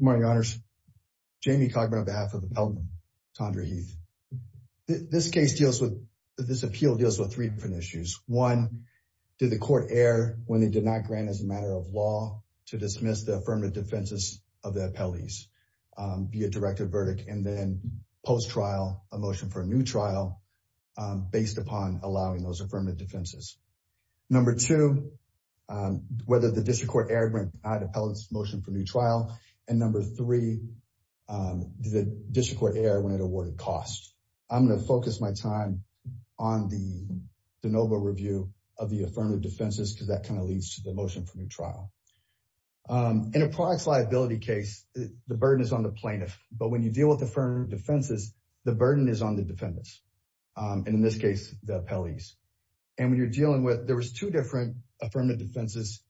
Good morning, Your Honors. Jamie Cogburn on behalf of the appellant, Tawndra Heath. This case deals with, this appeal deals with three different issues. One, did the court err when they did not grant as a matter of law to dismiss the affirmative defenses of the appellees via directed verdict? And then post-trial, a motion for a new trial based upon allowing those affirmative defenses. Number two, whether the district court erred when it denied the appellant's motion for new trial. And number three, did the district court err when it awarded cost? I'm going to focus my time on the de novo review of the affirmative defenses because that kind of leads to the motion for new trial. In a products liability case, the burden is on the plaintiff. But when you deal with affirmative defenses, the burden is on the defendants. And in this case, the appellees. And when you're dealing with, there was two different affirmative defenses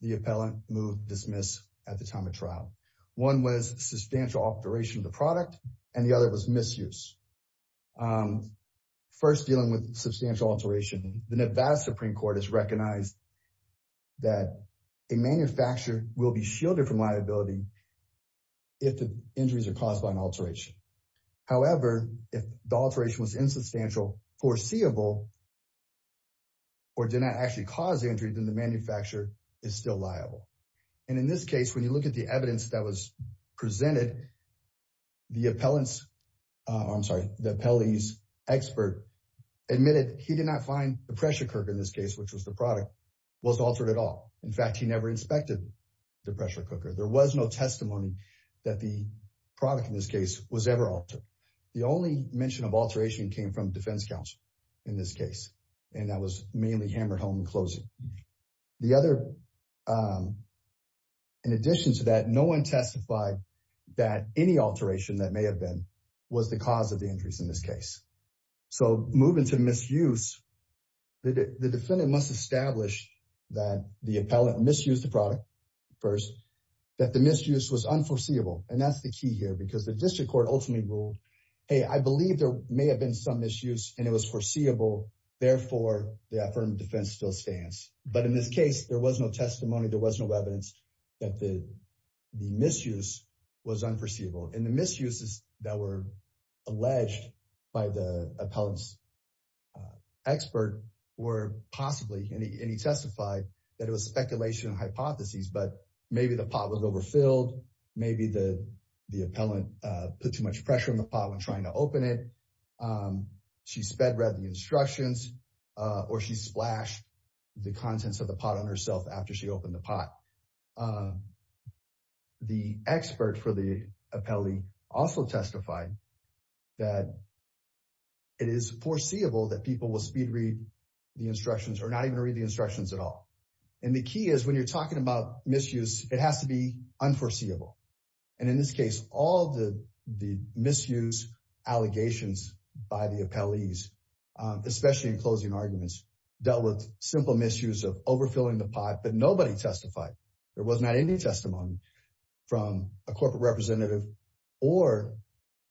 the appellant moved, dismissed at the time of trial. One was substantial alteration of the product. And the other was misuse. First, dealing with substantial alteration, the Nevada Supreme Court has recognized that a manufacturer will be shielded from liability if the injuries are caused by an alteration. However, if the alteration was insubstantial, foreseeable, or did not actually cause injury, then the manufacturer is still liable. And in this case, when you look at the evidence that was presented, the appellant's, I'm sorry, the appellee's expert admitted he did not find the pressure cooker in this case, which was the product, was altered at all. In fact, he never inspected the pressure cooker. There was no testimony that the product in this case was ever altered. The only mention of alteration came from defense counsel in this case. And that was mainly hammered home in closing. The other, in addition to that, no one testified that any alteration that may have been was the cause of the injuries in this case. So moving to misuse, the defendant must establish that the appellant misused the product first, that the misuse was unforeseeable. And that's the key here because the district court ultimately ruled, hey, I believe there may have been some misuse and it was foreseeable. Therefore, the affirmative defense still stands. But in this case, there was no testimony. There was no evidence that the misuse was unforeseeable. And the misuses that were alleged by the appellant's expert were possibly, and he testified that it was speculation and hypotheses. But maybe the pot was overfilled. Maybe the the appellant put too much pressure on the pot when trying to open it. She sped read the instructions or she splashed the contents of the pot on herself after she opened the pot. The expert for the appellee also testified that it is foreseeable that people will speed read the instructions or not even read the instructions at all. And the key is when you're talking about misuse, it has to be unforeseeable. And in this case, all the the misuse allegations by the appellees, especially in closing arguments, dealt with simple misuse of overfilling the pot. But nobody testified. There was not any testimony from a corporate representative or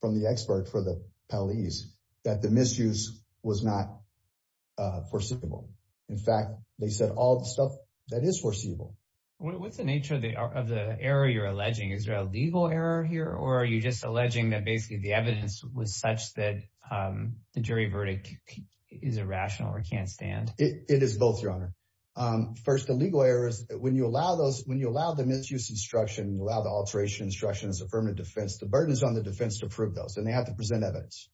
from the expert for the police that the misuse was not foreseeable. In fact, they said all the stuff that is foreseeable. What's the nature of the error you're alleging? Is there a legal error here? Or are you just alleging that basically the evidence was such that the jury verdict is irrational or can't stand? It is both, Your Honor. First, the legal errors. When you allow those when you allow the misuse instruction, allow the alteration instruction as affirmative defense, the burden is on the defense to prove those. And they have to present evidence.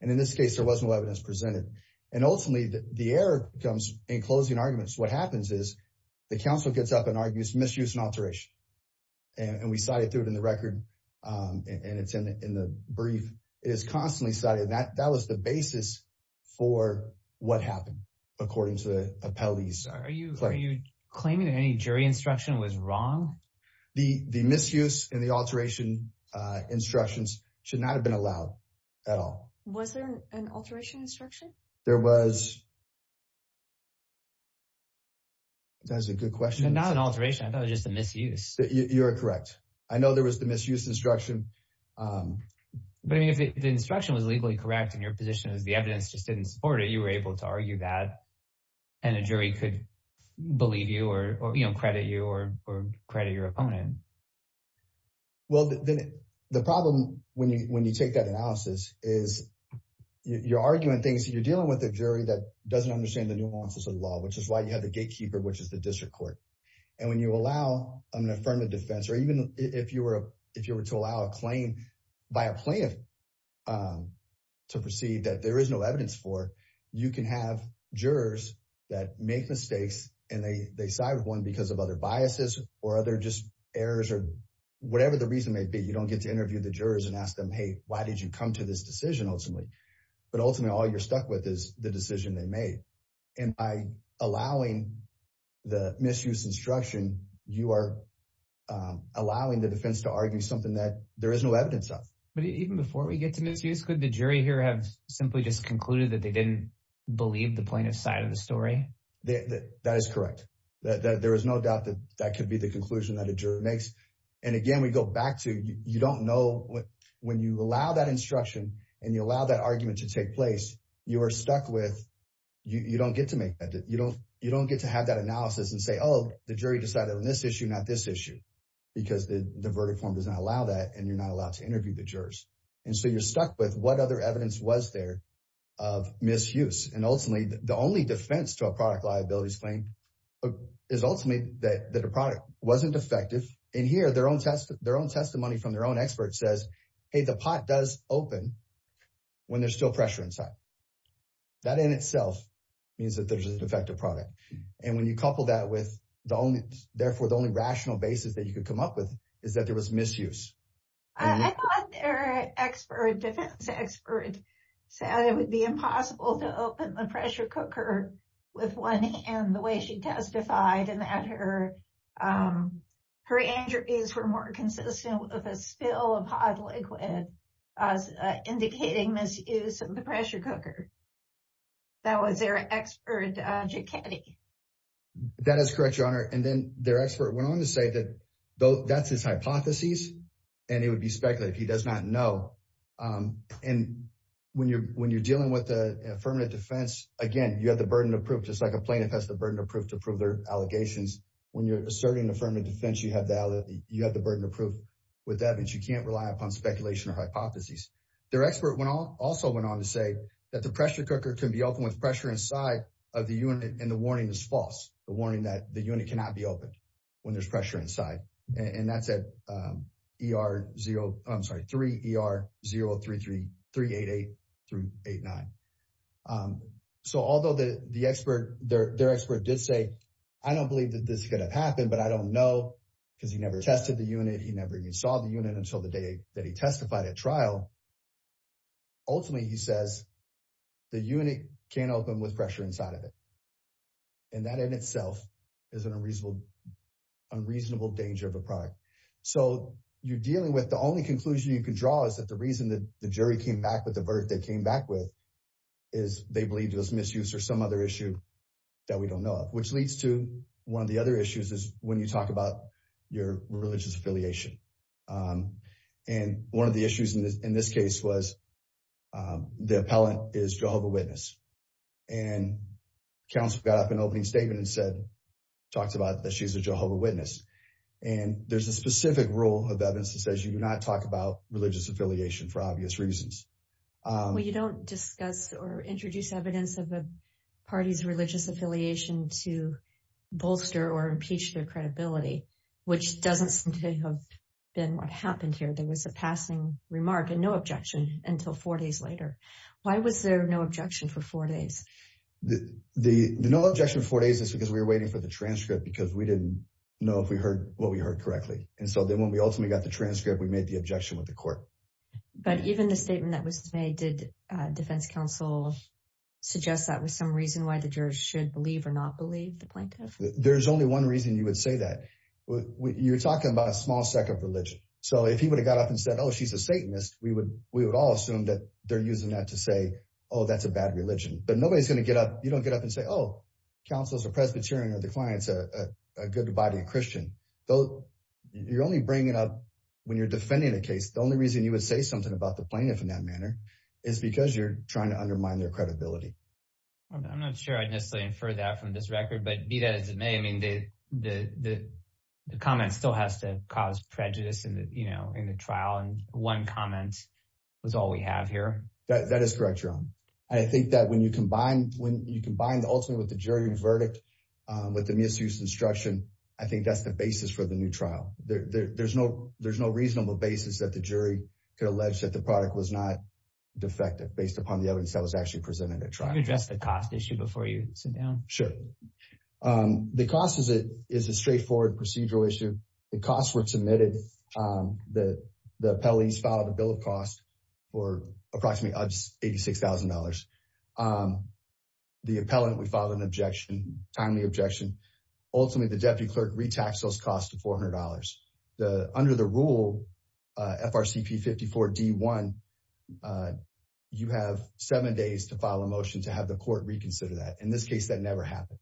And in this case, there was no evidence presented. And ultimately, the error comes in closing arguments. What happens is the counsel gets up and argues misuse and alteration. And we cited through it in the record and it's in the brief is constantly cited. That was the basis for what happened, according to the appellees. Are you claiming any jury instruction was wrong? The misuse and the alteration instructions should not have been allowed at all. Was there an alteration instruction? There was. That's a good question. Not an alteration. I thought it was just a misuse. You're correct. I know there was the misuse instruction. But if the instruction was legally correct and your position is the evidence just didn't support it, you were able to argue that. And a jury could believe you or credit you or credit your opponent. Well, the problem when you when you take that analysis is you're arguing things. You're dealing with a jury that doesn't understand the nuances of the law, which is why you have the gatekeeper, which is the district court. And when you allow an affirmative defense or even if you were if you were to allow a claim by a plaintiff to proceed that there is no evidence for, you can have jurors that make mistakes. And they decide one because of other biases or other just errors or whatever the reason may be. You don't get to interview the jurors and ask them, hey, why did you come to this decision ultimately? But ultimately, all you're stuck with is the decision they made. And by allowing the misuse instruction, you are allowing the defense to argue something that there is no evidence of. But even before we get to misuse, could the jury here have simply just concluded that they didn't believe the plaintiff's side of the story? That is correct that there is no doubt that that could be the conclusion that a jury makes. And again, we go back to you don't know when you allow that instruction and you allow that argument to take place. You are stuck with you. You don't get to make that. You don't you don't get to have that analysis and say, oh, the jury decided on this issue, not this issue, because the verdict form does not allow that. And you're not allowed to interview the jurors. And so you're stuck with what other evidence was there of misuse. And ultimately, the only defense to a product liabilities claim is ultimately that the product wasn't effective in here. Their own test, their own testimony from their own expert says, hey, the pot does open when there's still pressure inside. That in itself means that there's an effective product. And when you couple that with the only therefore the only rational basis that you could come up with is that there was misuse. I thought their expert defense expert said it would be impossible to open the pressure cooker with one hand. The way she testified in that her her injuries were more consistent with a spill of hot liquid as indicating misuse of the pressure cooker. That was their expert. That is correct, your honor. And then their expert went on to say that that's his hypotheses and it would be speculative. He does not know. And when you're when you're dealing with the affirmative defense, again, you have the burden of proof. Just like a plaintiff has the burden of proof to prove their allegations. When you're asserting affirmative defense, you have the you have the burden of proof with that. And you can't rely upon speculation or hypotheses. Their expert went on, also went on to say that the pressure cooker can be open with pressure inside of the unit. And the warning is false. The warning that the unit cannot be open when there's pressure inside. And that's at E.R. 0. I'm sorry, 3 E.R. 0 3 3 3 8 8 3 8 9. So although the expert there, their expert did say, I don't believe that this could have happened, but I don't know because he never tested the unit. He never even saw the unit until the day that he testified at trial. Ultimately, he says the unit can open with pressure inside of it. And that in itself is an unreasonable, unreasonable danger of a product. So you're dealing with the only conclusion you can draw is that the reason that the jury came back with the verdict they came back with. They believe there's misuse or some other issue that we don't know of, which leads to one of the other issues is when you talk about your religious affiliation. And one of the issues in this case was the appellant is Jehovah's Witness. And counsel got up an opening statement and said, talked about that she's a Jehovah's Witness. And there's a specific rule of evidence that says you do not talk about religious affiliation for obvious reasons. Well, you don't discuss or introduce evidence of the party's religious affiliation to bolster or impeach their credibility, which doesn't seem to have been what happened here. There was a passing remark and no objection until four days later. Why was there no objection for four days? The no objection for days is because we were waiting for the transcript because we didn't know if we heard what we heard correctly. And so then when we ultimately got the transcript, we made the objection with the court. But even the statement that was made, did defense counsel suggest that was some reason why the jurors should believe or not believe the plaintiff? There's only one reason you would say that. You're talking about a small sect of religion. So if he would have got up and said, oh, she's a Satanist, we would all assume that they're using that to say, oh, that's a bad religion. But nobody's going to get up. You don't get up and say, oh, counsel's a Presbyterian or the client's a good body Christian. You're only bringing it up when you're defending the case. The only reason you would say something about the plaintiff in that manner is because you're trying to undermine their credibility. I'm not sure I'd necessarily infer that from this record, but be that as it may, I mean, the comment still has to cause prejudice in the trial. And one comment was all we have here. That is correct, Jerome. I think that when you combine when you combine the ultimate with the jury verdict with the misuse instruction, I think that's the basis for the new trial. There's no there's no reasonable basis that the jury could allege that the product was not defective based upon the evidence that was actually presented. Try to address the cost issue before you sit down. Sure. The cost is it is a straightforward procedural issue. The costs were submitted that the appellees filed a bill of cost for approximately eighty six thousand dollars. The appellant would file an objection timely objection. Ultimately, the deputy clerk retax those costs to four hundred dollars. Under the rule FRCP 54 D1, you have seven days to file a motion to have the court reconsider that. In this case, that never happened.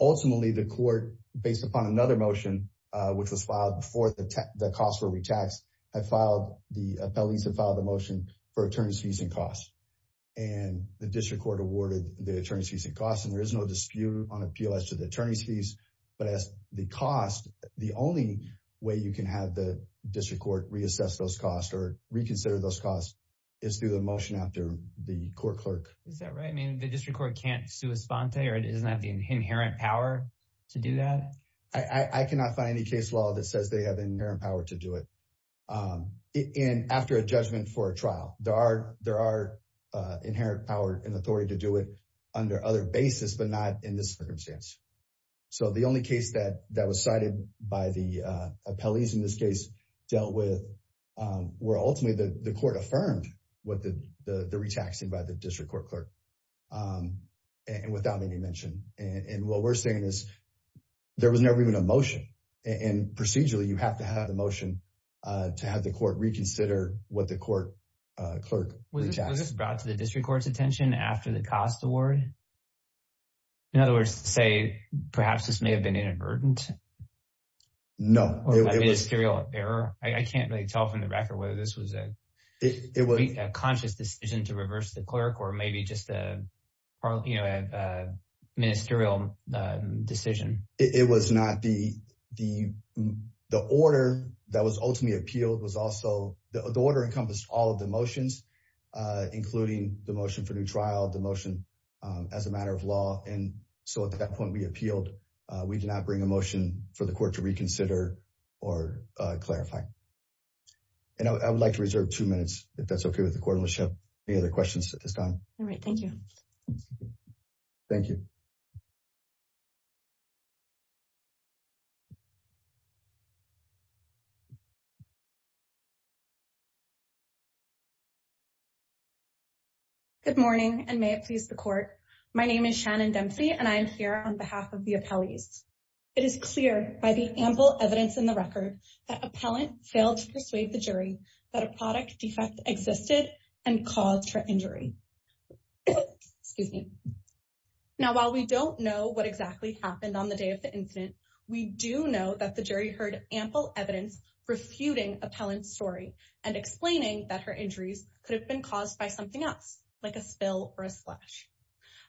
Ultimately, the court, based upon another motion, which was filed before the costs were retaxed, had filed the appellees and filed a motion for attorney's fees and costs. And the district court awarded the attorney's fees and costs. And there is no dispute on appeal as to the attorney's fees. But as the cost, the only way you can have the district court reassess those costs or reconsider those costs is through the motion after the court clerk. Is that right? I mean, the district court can't sue a sponsor or it is not the inherent power to do that. I cannot find any case law that says they have inherent power to do it. And after a judgment for a trial, there are there are inherent power and authority to do it under other basis, but not in this circumstance. So the only case that that was cited by the appellees in this case dealt with were ultimately the court affirmed what the retaxing by the district court clerk and without any mention. And what we're saying is there was never even a motion. And procedurally, you have to have a motion to have the court reconsider what the court clerk was brought to the district court's attention after the cost award. In other words, say, perhaps this may have been inadvertent. No, it was a ministerial error. I can't really tell from the record whether this was a conscious decision to reverse the clerk or maybe just a ministerial decision. It was not the the the order that was ultimately appealed was also the order encompassed all of the motions, including the motion for new trial, the motion as a matter of law. And so at that point, we appealed. We did not bring a motion for the court to reconsider or clarify. And I would like to reserve two minutes if that's OK with the court. Let's have any other questions at this time. All right. Thank you. Thank you. Thank you. Good morning and may it please the court. My name is Shannon Dempsey and I'm here on behalf of the appellees. It is clear by the ample evidence in the record that appellant failed to persuade the jury that a product defect existed and cause for injury. Excuse me. Now, while we don't know what exactly happened on the day of the incident, we do know that the jury heard ample evidence refuting appellant story and explaining that her injuries could have been caused by something else, like a spill or a splash.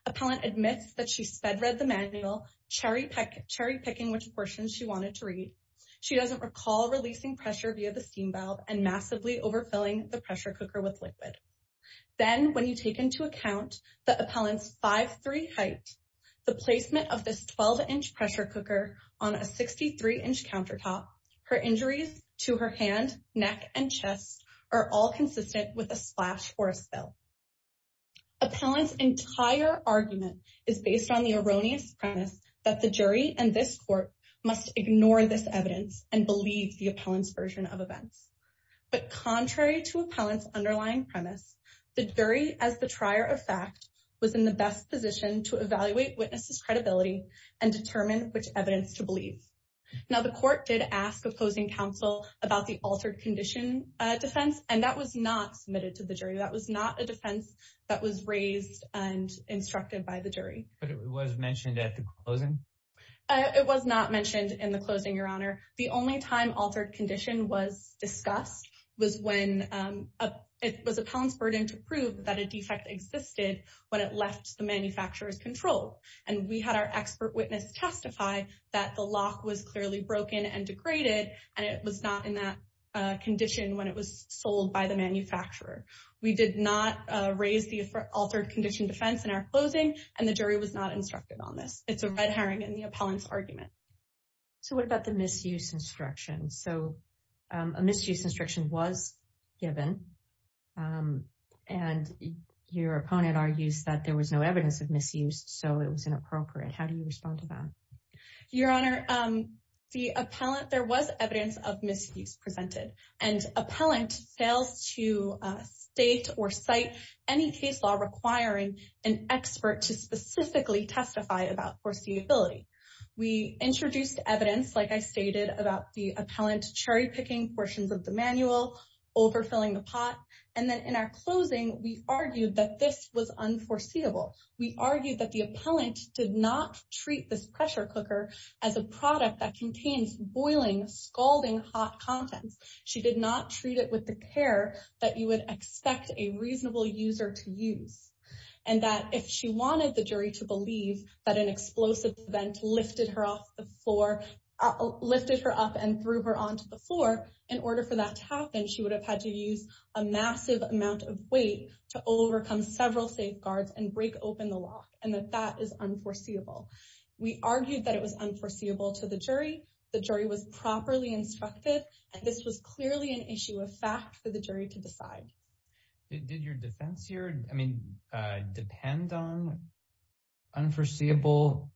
Appellant admits that she sped read the manual cherry pick cherry picking which portion she wanted to read. She doesn't recall releasing pressure via the steam valve and massively overfilling the pressure cooker with liquid. Then when you take into account the appellant's 5'3 height, the placement of this 12-inch pressure cooker on a 63-inch countertop, her injuries to her hand, neck and chest are all consistent with a splash or a spill. Appellant's entire argument is based on the erroneous premise that the jury and this court must ignore this evidence and believe the appellant's version of events. But contrary to appellant's underlying premise, the jury, as the trier of fact, was in the best position to evaluate witnesses' credibility and determine which evidence to believe. Now, the court did ask opposing counsel about the altered condition defense and that was not submitted to the jury. That was not a defense that was raised and instructed by the jury. But it was mentioned at the closing? It was not mentioned in the closing, your honor. The only time altered condition was discussed was when it was appellant's burden to prove that a defect existed when it left the manufacturer's control. And we had our expert witness testify that the lock was clearly broken and degraded and it was not in that condition when it was sold by the manufacturer. We did not raise the altered condition defense in our closing and the jury was not instructed on this. It's a red herring in the appellant's argument. So what about the misuse instruction? So a misuse instruction was given and your opponent argues that there was no evidence of misuse, so it was inappropriate. How do you respond to that? Your honor, there was evidence of misuse presented and appellant fails to state or cite any case law requiring an expert to specifically testify about foreseeability. We introduced evidence, like I stated, about the appellant cherry picking portions of the manual, overfilling the pot, and then in our closing, we argued that this was unforeseeable. We argued that the appellant did not treat this pressure cooker as a product that contains boiling, scalding hot contents. She did not treat it with the care that you would expect a reasonable user to use. And that if she wanted the jury to believe that an explosive event lifted her up and threw her onto the floor, in order for that to happen, she would have had to use a massive amount of weight to overcome several safeguards and break open the lock, and that that is unforeseeable. We argued that it was unforeseeable to the jury. The jury was properly instructed, and this was clearly an issue of fact for the jury to decide. Did your defense here, I mean, depend on unforeseeable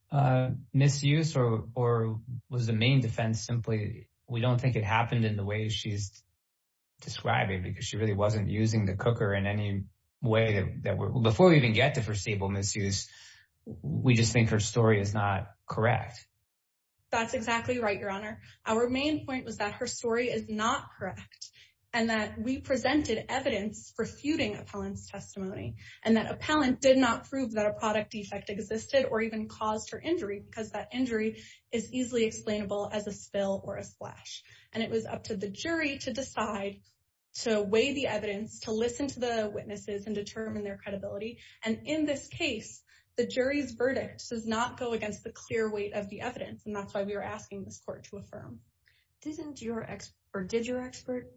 misuse, or was the main defense simply, we don't think it happened in the way she's describing, because she really wasn't using the cooker in any way that, before we even get to foreseeable misuse, we just think her story is not correct. That's exactly right, Your Honor. Our main point was that her story is not correct, and that we presented evidence for feuding appellant's testimony, and that appellant did not prove that a product defect existed or even caused her injury, because that injury is easily explainable as a spill or a splash. And it was up to the jury to decide, to weigh the evidence, to listen to the witnesses and determine their credibility, and in this case, the jury's verdict does not go against the clear weight of the evidence, and that's why we were asking this court to affirm. Didn't your expert, or did your expert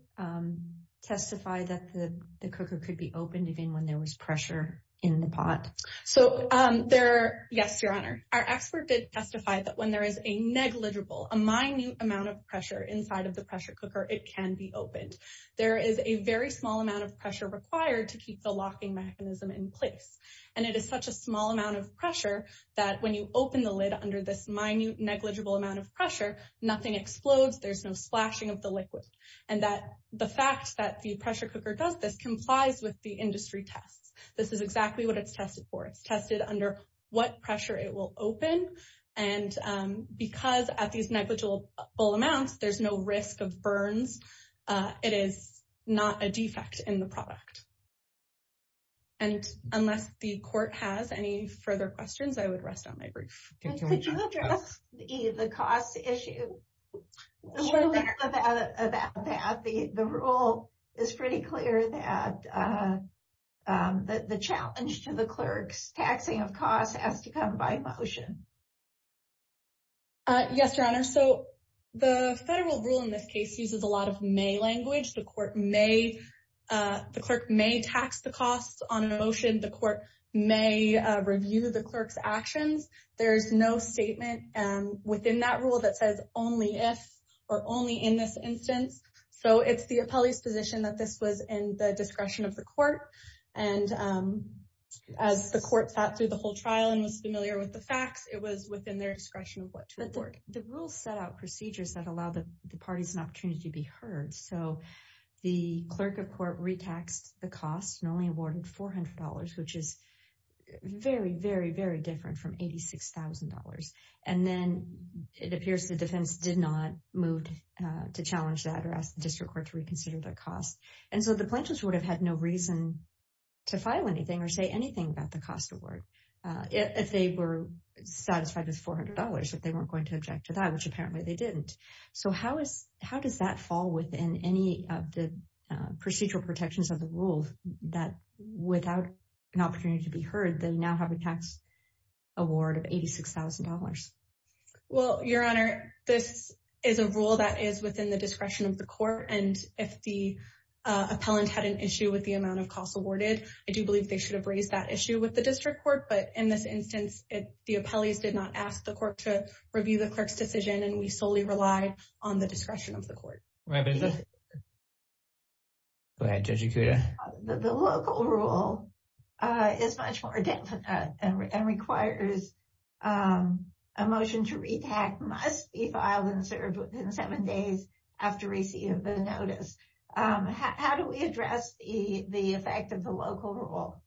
testify that the cooker could be opened even when there was pressure in the pot? So, there, yes, Your Honor. Our expert did testify that when there is a negligible, a minute amount of pressure inside of the pressure cooker, it can be opened. There is a very small amount of pressure required to keep the locking mechanism in place, and it is such a small amount of pressure that when you open the lid under this minute, negligible amount of pressure, nothing explodes, there's no splashing of the liquid. And that the fact that the pressure cooker does this complies with the industry tests. This is exactly what it's tested for. It's tested under what pressure it will open, and because at these negligible amounts, there's no risk of burns, it is not a defect in the product. And unless the court has any further questions, I would rest on my brief. Could you address the cost issue? The rule is pretty clear that the challenge to the clerk's taxing of costs has to come by motion. Yes, Your Honor. So, the federal rule in this case uses a lot of may language. The court may, the clerk may tax the costs on a motion. The court may review the clerk's actions. There's no statement within that rule that says only if, or only in this instance. So, it's the appellee's position that this was in the discretion of the court, and as the court sat through the whole trial and was familiar with the facts, it was within their discretion of what to award. The rule set out procedures that allow the parties an opportunity to be heard. So, the clerk of court retaxed the cost and only awarded $400, which is very, very, very different from $86,000. And then it appears the defense did not move to challenge that or ask the district court to reconsider the cost. And so, the plaintiffs would have had no reason to file anything or say anything about the cost award if they were satisfied with $400, if they weren't going to object to that, which apparently they didn't. So, how is, how does that fall within any of the procedural protections of the rule that without an opportunity to be heard, they now have a tax award of $86,000? Well, Your Honor, this is a rule that is within the discretion of the court, and if the appellant had an issue with the amount of costs awarded, I do believe they should have raised that issue with the district court. But in this instance, the appellees did not ask the court to review the clerk's decision, and we solely relied on the discretion of the court. Go ahead, Judge Ikuda. The local rule is much more definite and requires a motion to retax must be filed and served within seven days after receipt of the notice. How do we address the effect of the local rule?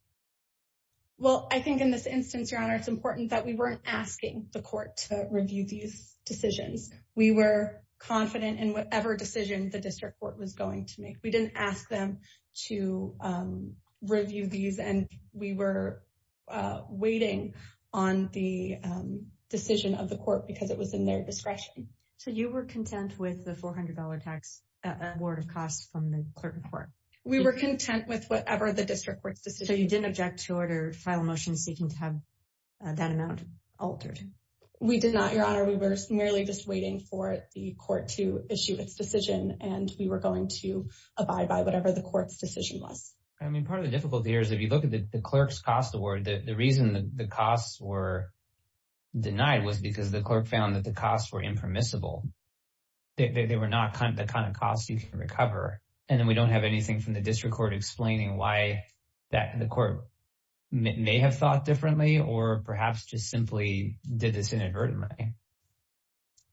Well, I think in this instance, Your Honor, it's important that we weren't asking the court to review these decisions. We were confident in whatever decision the district court was going to make. We didn't ask them to review these, and we were waiting on the decision of the court because it was in their discretion. So, you were content with the $400 tax award of costs from the clerk of court? We were content with whatever the district court's decision was. So, you didn't object to a final motion seeking to have that amount altered? We did not, Your Honor. We were merely just waiting for the court to issue its decision, and we were going to abide by whatever the court's decision was. I mean, part of the difficulty here is if you look at the clerk's cost award, the reason the costs were denied was because the clerk found that the costs were impermissible. They were not the kind of costs you can recover, and then we don't have anything from the district court explaining why the court may have thought differently or perhaps just simply did this inadvertently.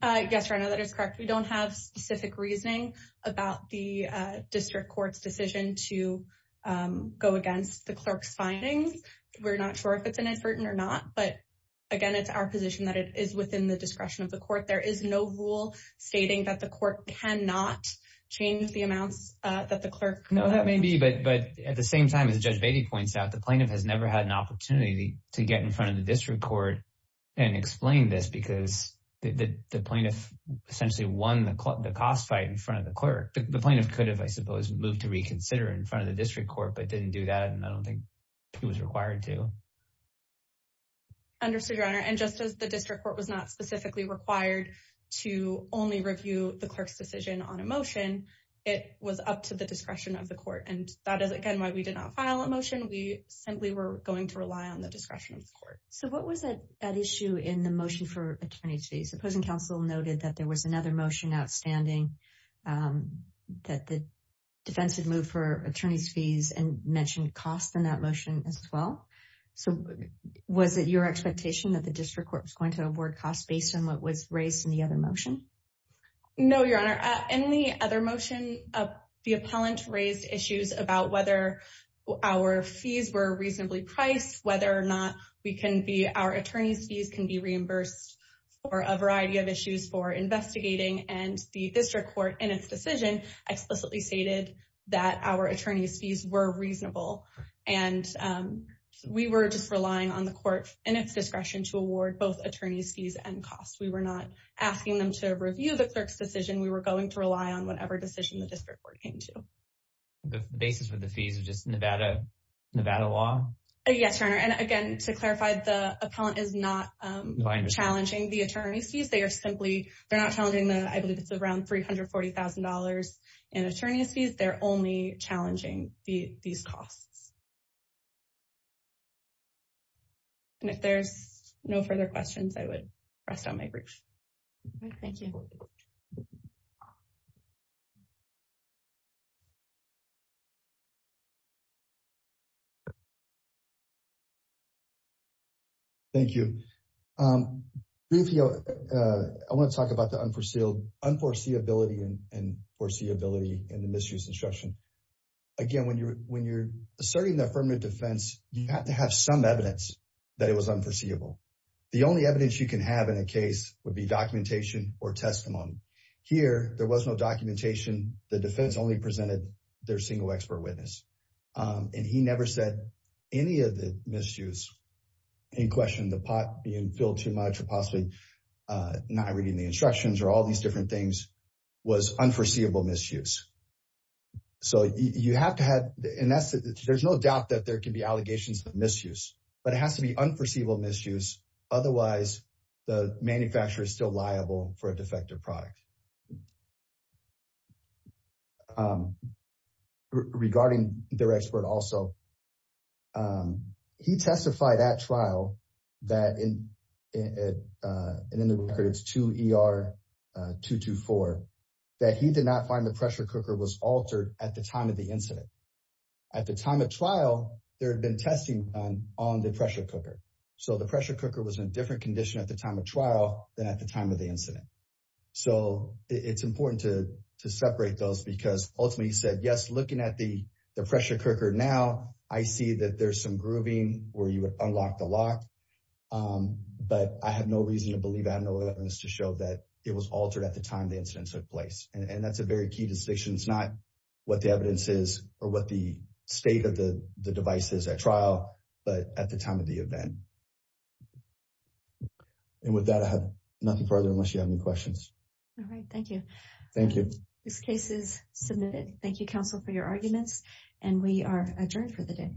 Yes, Your Honor, that is correct. We don't have specific reasoning about the district court's decision to go against the clerk's findings. We're not sure if it's inadvertent or not, but again, it's our position that it is within the discretion of the court. There is no rule stating that the court cannot change the amounts that the clerk— No, that may be, but at the same time, as Judge Beatty points out, the plaintiff has never had an opportunity to get in front of the district court and explain this because the plaintiff essentially won the cost fight in front of the clerk. The plaintiff could have, I suppose, moved to reconsider in front of the district court but didn't do that, and I don't think he was required to. Understood, Your Honor, and just as the district court was not specifically required to only review the clerk's decision on a motion, it was up to the discretion of the court, and that is, again, why we did not file a motion. We simply were going to rely on the discretion of the court. So what was at issue in the motion for attorney's fees? Opposing counsel noted that there was another motion outstanding that the defense had moved for attorney's fees and mentioned costs in that motion as well. So was it your expectation that the district court was going to award costs based on what was raised in the other motion? No, Your Honor. In the other motion, the appellant raised issues about whether our fees were reasonably priced, whether or not we can be—our attorney's fees can be reimbursed for a variety of issues for investigating, and the district court, in its decision, explicitly stated that our attorney's fees were reasonable, and we were just relying on the court and its discretion to award both attorney's fees and costs. We were not asking them to review the clerk's decision. We were going to rely on whatever decision the district court came to. The basis for the fees was just Nevada law? Yes, Your Honor, and again, to clarify, the appellant is not challenging the attorney's fees. They are simply—they're not challenging the—I believe it's around $340,000 in attorney's fees. They're only challenging these costs. And if there's no further questions, I would rest on my brief. All right. Thank you. Thank you. Rufio, I want to talk about the unforeseeability and foreseeability in the misuse instruction. Again, when you're asserting the affirmative defense, you have to have some evidence that it was unforeseeable. The only evidence you can have in a case would be documentation or testimony. Here, there was no documentation. The defense only presented their single expert witness, and he never said any of the misuse. Any question of the pot being filled too much or possibly not reading the instructions or all these different things was unforeseeable misuse. So you have to have—and there's no doubt that there can be allegations of misuse, but it has to be unforeseeable misuse. Otherwise, the manufacturer is still liable for a defective product. Regarding their expert also, he testified at trial that—and in the record, it's 2ER224—that he did not find the pressure cooker was altered at the time of the incident. At the time of trial, there had been testing done on the pressure cooker. So the pressure cooker was in a different condition at the time of trial than at the time of the incident. So it's important to separate those because, ultimately, he said, yes, looking at the pressure cooker now, I see that there's some grooving where you would unlock the lock. But I have no reason to believe—I have no evidence to show that it was altered at the time the incident took place. And that's a very key distinction. It's not what the evidence is or what the state of the device is at trial, but at the time of the event. And with that, I have nothing further unless you have any questions. All right. Thank you. Thank you. This case is submitted. Thank you, counsel, for your arguments. And we are adjourned for the day.